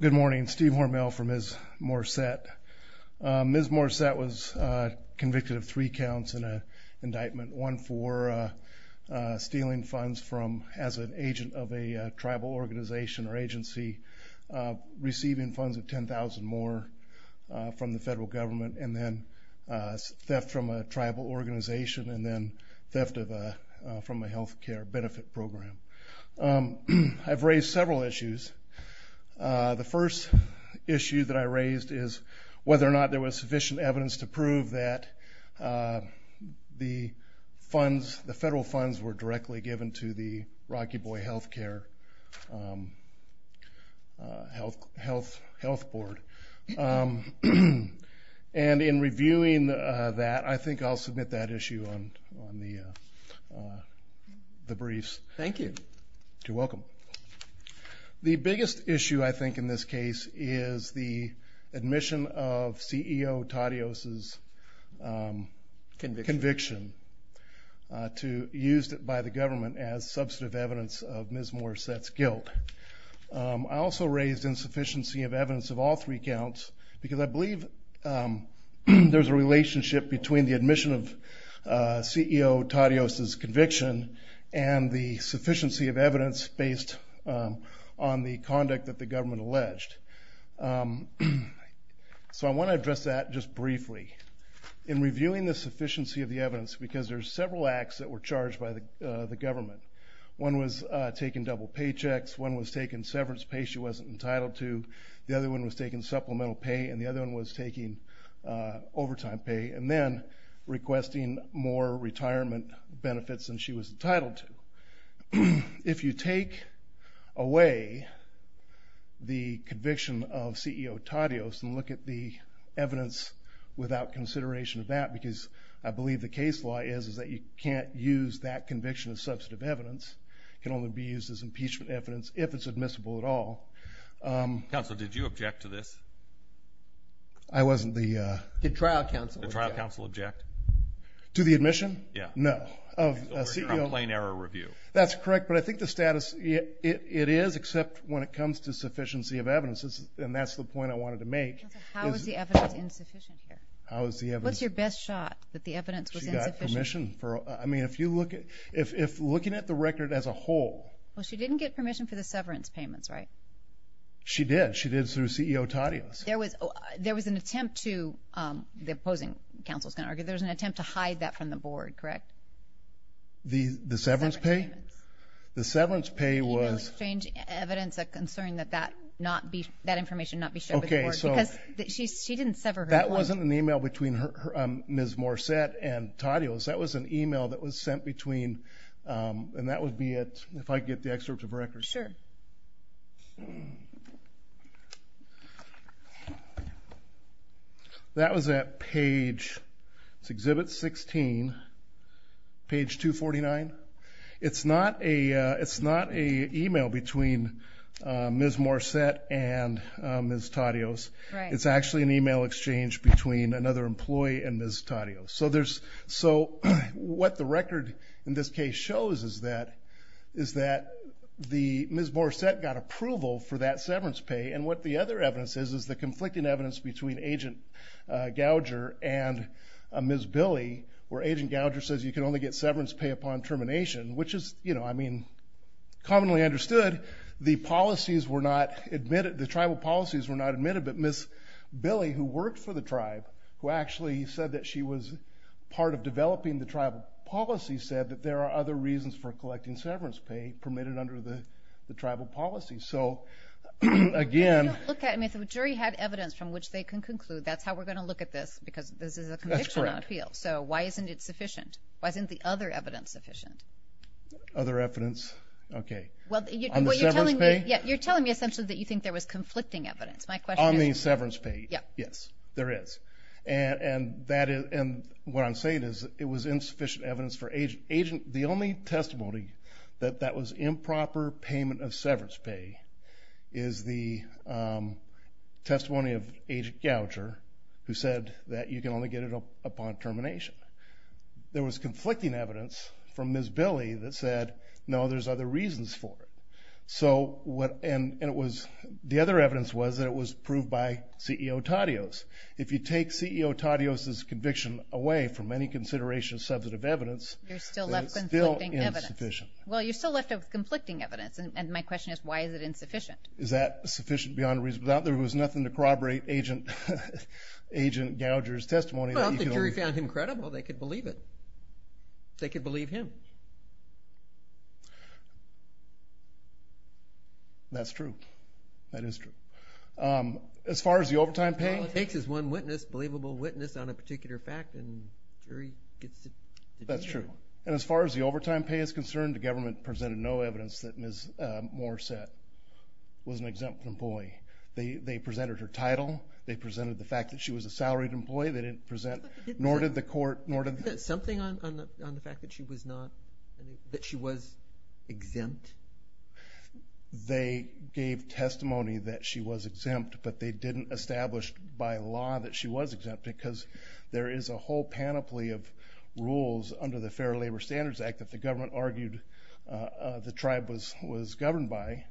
Good morning, Steve Hormel from Ms. Morsette. Ms. Morsette was convicted of three counts in an indictment. One for stealing funds from as an agent of a tribal organization or agency, receiving funds of ten thousand more from the federal government, and then theft from a tribal organization, and then theft of from a health care benefit program. I've raised several issues. The first issue that I raised is whether or not there was sufficient evidence to prove that the funds, the federal funds, were directly given to the Rocky Boy Health Care Health Board. And in reviewing that, I think I'll submit that issue on the briefs. Thank you. You're welcome. The biggest issue, I think, in this case is the admission of CEO Tadios' conviction to use it by the government as substantive evidence of Ms. Morsette's guilt. I also raised insufficiency of evidence of all three counts because I believe there's a relationship between the admission of CEO Tadios' conviction and the sufficiency of evidence based on the conduct that the government alleged. So I want to address that just briefly. In reviewing the sufficiency of the evidence, because there's several acts that were charged by the government, one was taking double paychecks, one was taking severance pay she wasn't entitled to, the other one was taking supplemental pay, and the other one was taking overtime pay, and then requesting more retirement benefits than she was entitled to. If you take away the conviction of CEO Tadios and look at the evidence without consideration of that, because I believe the case law is that you can't use that conviction as substantive evidence, it can only be used as impeachment evidence if it's objective. Did you object to this? I wasn't the trial counsel. Did the trial counsel object? To the admission? Yeah. No. Of a complaint error review. That's correct, but I think the status, it is, except when it comes to sufficiency of evidence, and that's the point I wanted to make. How is the evidence insufficient here? What's your best shot that the evidence was insufficient? She got permission for, I mean, if you look at, if looking at the record as a whole. Well, she didn't get permission for the severance payments, right? She did. She did through CEO Tadios. There was, there was an attempt to, the opposing counsel's going to argue, there was an attempt to hide that from the board, correct? The severance pay? The severance pay was... The email exchange evidence, a concern that that not be, that information not be shown to the board, because she didn't sever her complaint. That wasn't an email between Ms. Morissette and Tadios. That was an email that was sent between, and that would be it, if I could get the excerpt of record. Sure. That was at page, it's Exhibit 16, page 249. It's not a, it's not an email between Ms. Morissette and Ms. Tadios. Right. It's actually an email exchange between another employee and Ms. Tadios. So there's, so what the record in this case shows is that the, Ms. Morissette got approval for that severance pay, and what the other evidence is, is the conflicting evidence between Agent Gouger and Ms. Billy, where Agent Gouger says you can only get severance pay upon termination, which is, you know, I mean, commonly understood. The policies were not admitted, the tribal policies were not admitted, but Ms. Billy, who worked for the tribe, who actually said that she was part of developing the tribal policy, said that there are other reasons for collecting severance pay. And there was insufficient severance pay permitted under the tribal policy. So, again. If you look at, I mean, if a jury had evidence from which they can conclude, that's how we're going to look at this, because this is a conviction appeal. That's correct. So, why isn't it sufficient? Why isn't the other evidence sufficient? Other evidence, okay. On the severance pay? Well, you're telling me, yeah, you're telling me essentially that you think there was conflicting evidence. My question is. On the severance pay. Yeah. Yes, there is. And, and that is, and what I'm saying is, it was insufficient evidence for Agent, Agent, the only testimony that Agent Gouger, Agent Gouger, Agent Gouger, Agent Gouger, Agent Gouger, Agent Gouger, Agent Gouger, Agent Gouger, Agent Gouger, Agent Gouger, Agent Gouger, Agent Gouger, Agent Gouger, Agent Gouger, that that was improper payment of severance pay, is the testimony of Agent Gouger, who said that you can only get it upon termination. There was conflicting evidence from Ms. Billy that said, no, there's other reasons for it. So, what, and it was, the other evidence was that it was proved by CEO Taddeos. If you take CEO Taddeos' conviction away from any consideration of substantive evidence, you're still left with conflicting evidence. Well, you're still left with conflicting evidence, and my question is, why is it insufficient? Is that sufficient beyond reasonable doubt? There was nothing to corroborate Agent, Agent Gouger's testimony. Well, if the jury found him credible, they could believe it. They could believe him. That's true. That is true. As far as the overtime pay? All it takes is one witness, believable witness, on a particular fact, and jury gets the deal. That's true. And as far as the overtime pay is concerned, the government presented no evidence that Ms. Moore said was an exempt employee. They presented her title. They presented the fact that she was a salaried employee. They didn't present, nor did the court, nor did the… Something on the fact that she was not, that she was exempt? They gave testimony that she was exempt, but they didn't establish by law that she was exempt, because there is a whole panoply of rules under the Fair Labor Standards Act that the government argued the tribe was governed by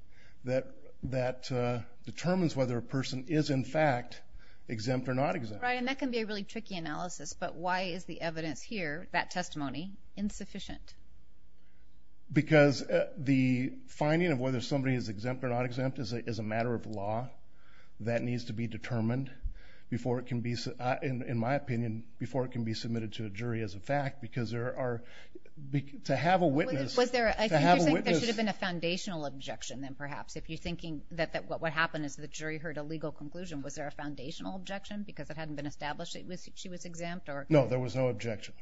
that determines whether a person is, in fact, exempt or not exempt. Right, and that can be a really tricky analysis, but why is the evidence here, that testimony, insufficient? Because the finding of whether somebody is exempt or not exempt is a matter of law. That needs to be determined before it can be, in my opinion, before it can be submitted to a jury as a fact, because there are, to have a witness… Was there, I think you're saying there should have been a foundational objection, then, perhaps, if you're thinking that what would happen is the jury heard a legal conclusion. Was there a foundational objection, because it hadn't been established that she was exempt? No, there was no objection.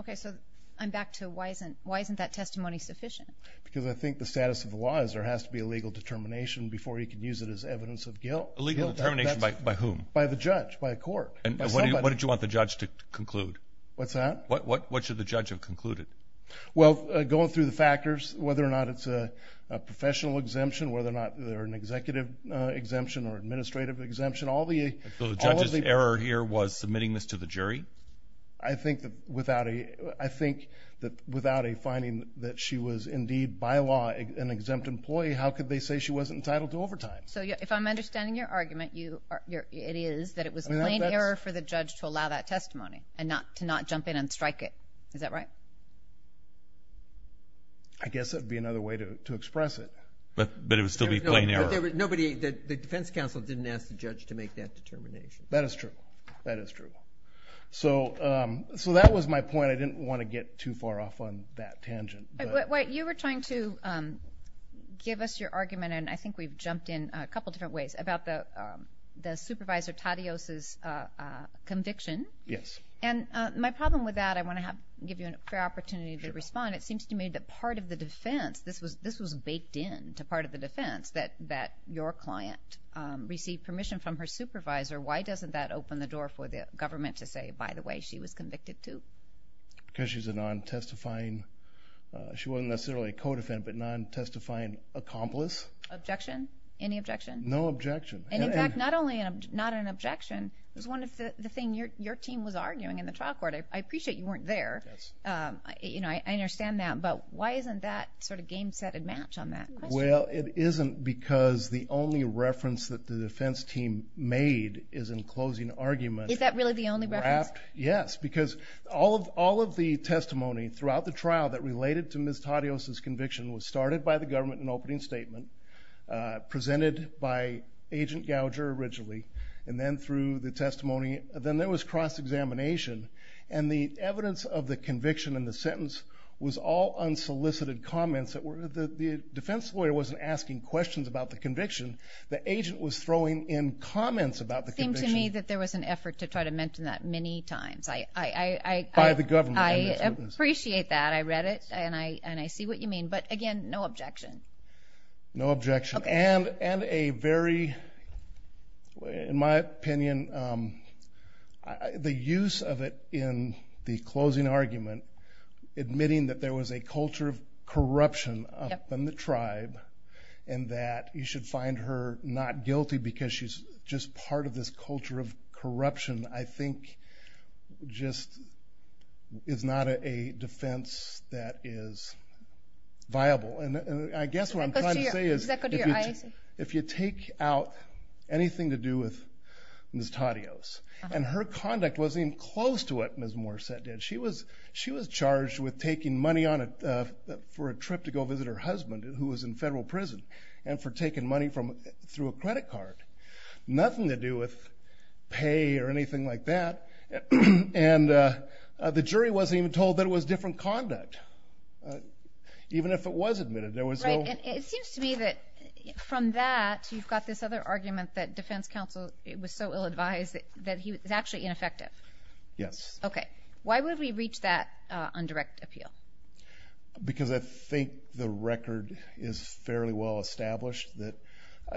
Okay, so I'm back to why isn't that testimony sufficient? Because I think the status of the law is there has to be a legal determination before you can use it as evidence of guilt. A legal determination by whom? By the judge, by a court, by somebody. And what did you want the judge to conclude? What's that? What should the judge have concluded? Well, going through the factors, whether or not it's a professional exemption, whether or not they're an executive exemption or administrative exemption, all the… So the judge's error here was submitting this to the jury? I think that without a finding that she was indeed, by law, an exempt employee, how could they say she wasn't entitled to overtime? So if I'm understanding your argument, it is that it was plain error for the judge to allow that testimony and to not jump in and strike it. Is that right? I guess that would be another way to express it. But it would still be plain error. But the defense counsel didn't ask the judge to make that determination. That is true. So that was my point. I didn't want to get too far off on that tangent. Wait, you were trying to give us your argument, and I think we've jumped in a couple different ways, about the supervisor, Taddeos' conviction. Yes. And my problem with that, I want to give you a fair opportunity to respond. It seems to me that part of the defense, this was baked in to part of the defense, that your client received permission from her supervisor. Why doesn't that open the door for the government to say, by the way, she was convicted too? Because she's a non-testifying. She wasn't necessarily a co-defendant, but a non-testifying accomplice. Objection? Any objection? No objection. And, in fact, not only not an objection. It was one of the things your team was arguing in the trial court. I appreciate you weren't there. I understand that. But why isn't that sort of game set and match on that question? Well, it isn't because the only reference that the defense team made is in closing argument. Is that really the only reference? Yes, because all of the testimony throughout the trial that related to Ms. Taddeos' conviction was started by the government in an opening statement, presented by Agent Gouger originally, and then through the testimony. Then there was cross-examination. And the evidence of the conviction in the sentence was all unsolicited comments. The defense lawyer wasn't asking questions about the conviction. The agent was throwing in comments about the conviction. It seemed to me that there was an effort to try to mention that many times. By the government. I appreciate that. I read it, and I see what you mean. But, again, no objection. No objection. And a very, in my opinion, the use of it in the closing argument, admitting that there was a culture of corruption up in the tribe and that you should find her not guilty because she's just part of this culture of corruption, I think just is not a defense that is viable. And I guess what I'm trying to say is if you take out anything to do with Ms. Taddeos, and her conduct wasn't even close to what Ms. Morissette did. She was charged with taking money for a trip to go visit her husband, who was in federal prison, and for taking money through a credit card. Nothing to do with pay or anything like that. And the jury wasn't even told that it was different conduct, even if it was admitted. It seems to me that from that you've got this other argument that defense counsel was so ill-advised that he was actually ineffective. Yes. Okay. Why would we reach that on direct appeal? Because I think the record is fairly well established that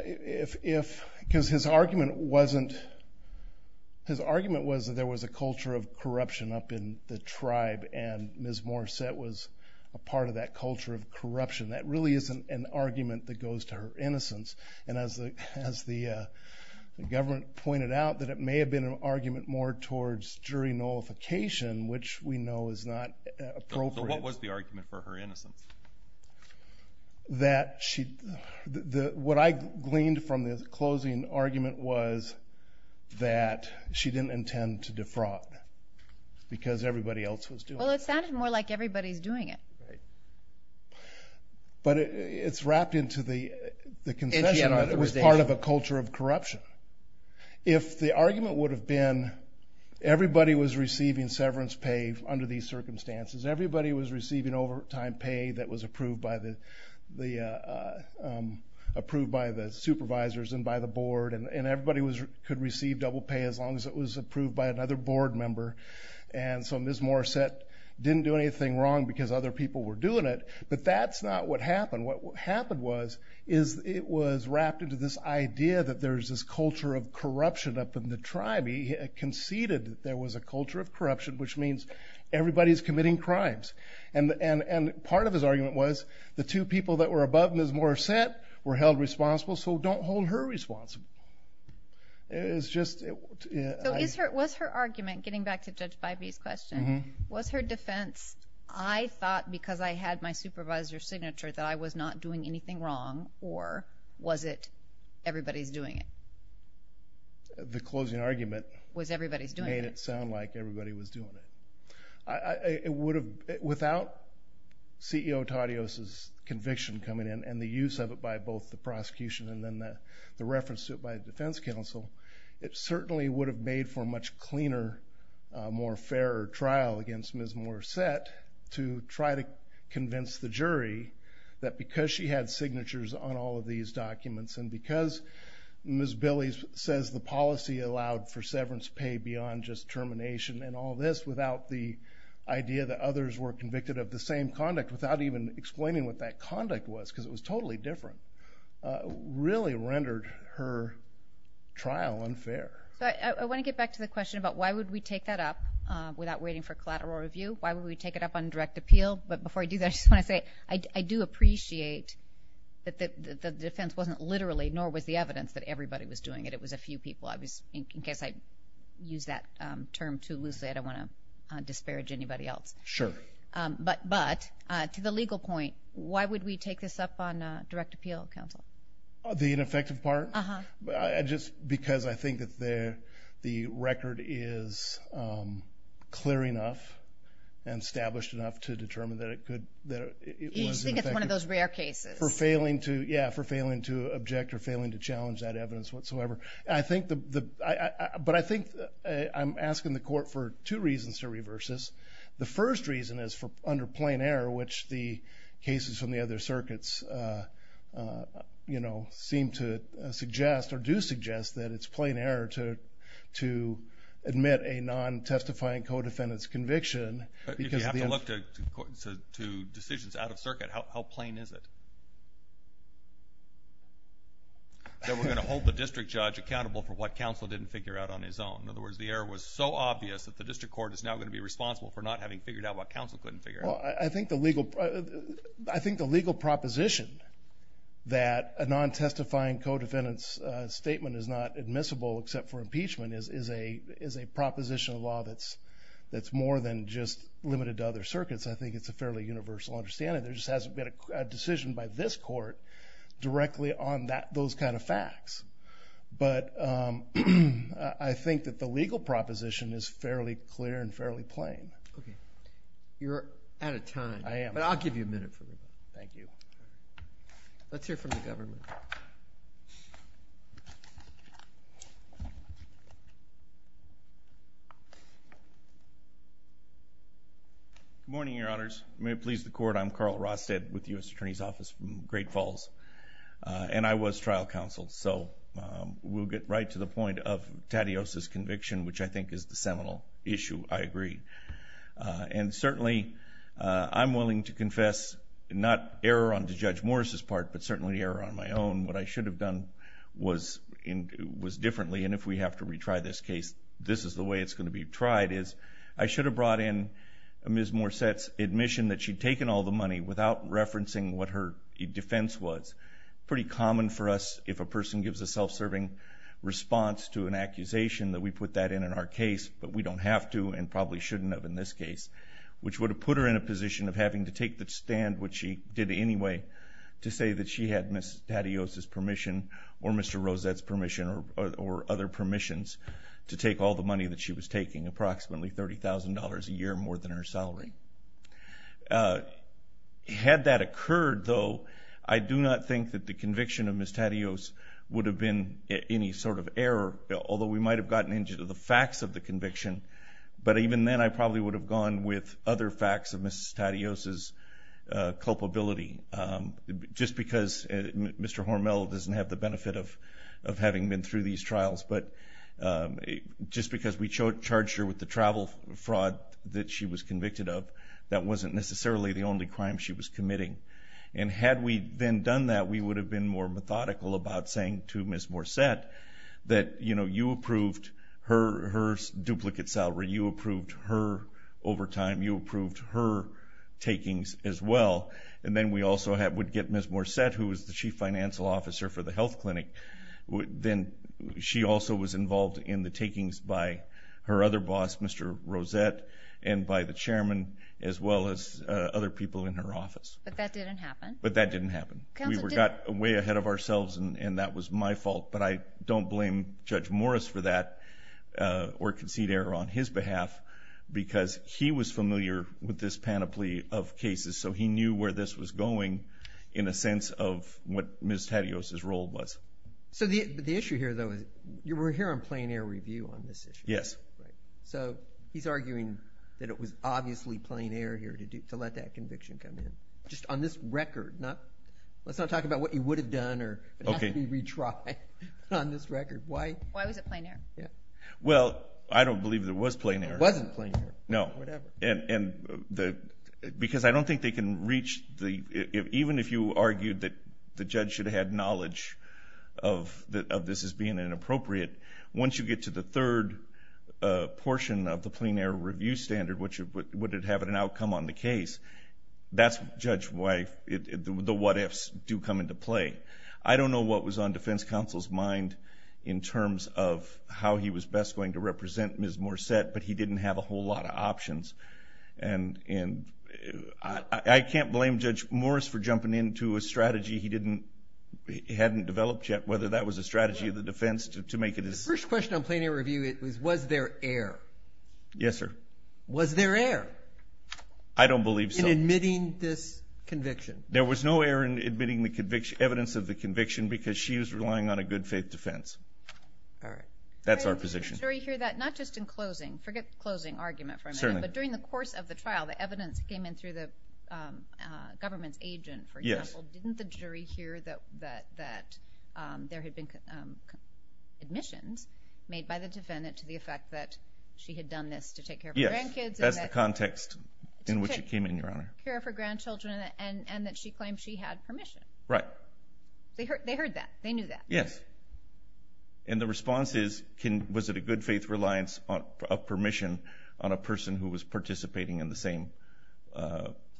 if, because his argument wasn't, his argument was that there was a culture of corruption up in the tribe and Ms. Morissette was a part of that culture of corruption. And as the government pointed out, that it may have been an argument more towards jury nullification, which we know is not appropriate. So what was the argument for her innocence? That she, what I gleaned from the closing argument was that she didn't intend to defraud because everybody else was doing it. Well, it sounded more like everybody's doing it. Right. But it's wrapped into the concession that it was part of a culture of corruption. If the argument would have been everybody was receiving severance pay under these circumstances, everybody was receiving overtime pay that was approved by the supervisors and by the board, and everybody could receive double pay as long as it was approved by another board member. And so Ms. Morissette didn't do anything wrong because other people were doing it. But that's not what happened. What happened was it was wrapped into this idea that there's this culture of corruption up in the tribe. He conceded that there was a culture of corruption, which means everybody's committing crimes. And part of his argument was the two people that were above Ms. Morissette were held responsible, so don't hold her responsible. It's just, yeah. So was her argument, getting back to Judge Bybee's question, was her defense, I thought because I had my supervisor's signature that I was not doing anything wrong, or was it everybody's doing it? The closing argument made it sound like everybody was doing it. It would have, without CEO Taddeus' conviction coming in and the use of it by both the prosecution and then the reference to it by the defense counsel, it certainly would have made for a much cleaner, more fairer trial against Ms. Morissette to try to convince the jury that because she had signatures on all of these documents and because Ms. Billy says the policy allowed for severance pay beyond just termination and all this, without the idea that others were convicted of the same conduct, without even explaining what that conduct was because it was totally different, really rendered her trial unfair. I want to get back to the question about why would we take that up without waiting for collateral review? Why would we take it up on direct appeal? But before I do that, I just want to say I do appreciate that the defense wasn't literally, nor was the evidence that everybody was doing it. It was a few people. In case I use that term too loosely, I don't want to disparage anybody else. Sure. But to the legal point, why would we take this up on direct appeal, counsel? The ineffective part? Uh-huh. Just because I think that the record is clear enough and established enough to determine that it was ineffective. You think it's one of those rare cases. Yeah, for failing to object or failing to challenge that evidence whatsoever. But I think I'm asking the court for two reasons to reverse this. The first reason is under plain error, which the cases from the other circuits seem to suggest or do suggest that it's plain error to admit a non-testifying co-defendant's conviction. If you have to look to decisions out of circuit, how plain is it that we're going to hold the district judge accountable for what counsel didn't figure out on his own? In other words, the error was so obvious that the district court is now going to be responsible for not having figured out what counsel couldn't figure out. Well, I think the legal proposition that a non-testifying co-defendant's statement is not admissible except for impeachment is a proposition of law that's more than just limited to other circuits. I think it's a fairly universal understanding. There just hasn't been a decision by this court directly on those kind of facts. But I think that the legal proposition is fairly clear and fairly plain. Okay. You're out of time. I am. But I'll give you a minute for that. Thank you. Let's hear from the government. Good morning, Your Honors. May it please the court, I'm Carl Rosted with the U.S. Attorney's Office from Great Falls. And I was trial counsel, so we'll get right to the point of Taddeus' conviction, which I think is the seminal issue. I agree. And certainly, I'm willing to confess not error on Judge Morris' part, but certainly error on my own. What I should have done was differently, and if we have to retry this case, this is the way it's going to be tried, is I should have brought in Ms. Morset's admission that she'd taken all the money without referencing what her defense was. Pretty common for us, if a person gives a self-serving response to an accusation, that we put that in in our case, but we don't have to and probably shouldn't have in this case, which would have put her in a position of having to take the stand, which she did anyway, to say that she had Ms. Taddeus' permission or Mr. Rosed's permission or other permissions to take all the money that she was taking, approximately $30,000 a year more than her salary. Had that occurred, though, I do not think that the conviction of Ms. Taddeus would have been any sort of error, although we might have gotten into the facts of the conviction. But even then, I probably would have gone with other facts of Ms. Taddeus' culpability, just because Mr. Hormel doesn't have the benefit of having been through these trials. But just because we charged her with the travel fraud that she was convicted of, that wasn't necessarily the only crime she was committing. And had we then done that, we would have been more methodical about saying to Ms. Morsette that, you know, you approved her duplicate salary, you approved her overtime, you approved her takings as well, and then we also would get Ms. Morsette, who was the chief financial officer for the health clinic, then she also was involved in the takings by her other boss, Mr. Rosette, and by the chairman as well as other people in her office. But that didn't happen. But that didn't happen. We got way ahead of ourselves, and that was my fault. But I don't blame Judge Morris for that or concede error on his behalf, because he was familiar with this panoply of cases, so he knew where this was going in a sense of what Ms. Tedios' role was. So the issue here, though, is we're here on plain air review on this issue. Yes. So he's arguing that it was obviously plain air here to let that conviction come in. Just on this record, let's not talk about what you would have done or it has to be retried on this record. Why was it plain air? Well, I don't believe there was plain air. There wasn't plain air. No. Whatever. Because I don't think they can reach the... Even if you argued that the judge should have had knowledge of this as being inappropriate, once you get to the third portion of the plain air review standard, would it have an outcome on the case? That's, Judge, why the what-ifs do come into play. I don't know what was on defense counsel's mind in terms of how he was best going to represent Ms. Morset, but he didn't have a whole lot of options. And I can't blame Judge Morris for jumping into a strategy he hadn't developed yet, whether that was a strategy of the defense to make it as... The first question on plain air review was, was there error? Yes, sir. Was there error? I don't believe so. In admitting this conviction? There was no error in admitting the evidence of the conviction because she was relying on a good faith defense. All right. That's our position. Did the jury hear that? Not just in closing. Forget the closing argument for a minute. Certainly. But during the course of the trial, the evidence came in through the government's agent, for example. Yes. Didn't the jury hear that there had been admissions made by the defendant to the effect that she had done this to take care of her grandkids? Yes, that's the context in which it came in, Your Honor. To take care of her grandchildren and that she claimed she had permission. Right. They heard that. They knew that. Yes. And the response is, was it a good faith reliance of permission on a person who was participating in the same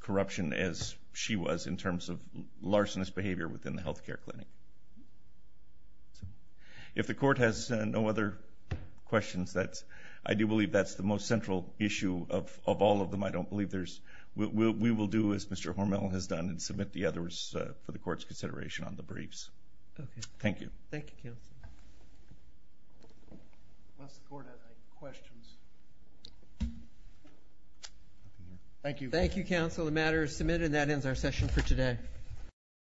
corruption as she was in terms of larcenous behavior within the health care clinic? If the Court has no other questions, I do believe that's the most central issue of all of them. I don't believe there's – we will do as Mr. Hormel has done and submit the others for the Court's consideration on the briefs. Okay. Thank you. Thank you, Counsel. Unless the Court has any questions. Thank you. Thank you, Counsel. The matter is submitted and that ends our session for today.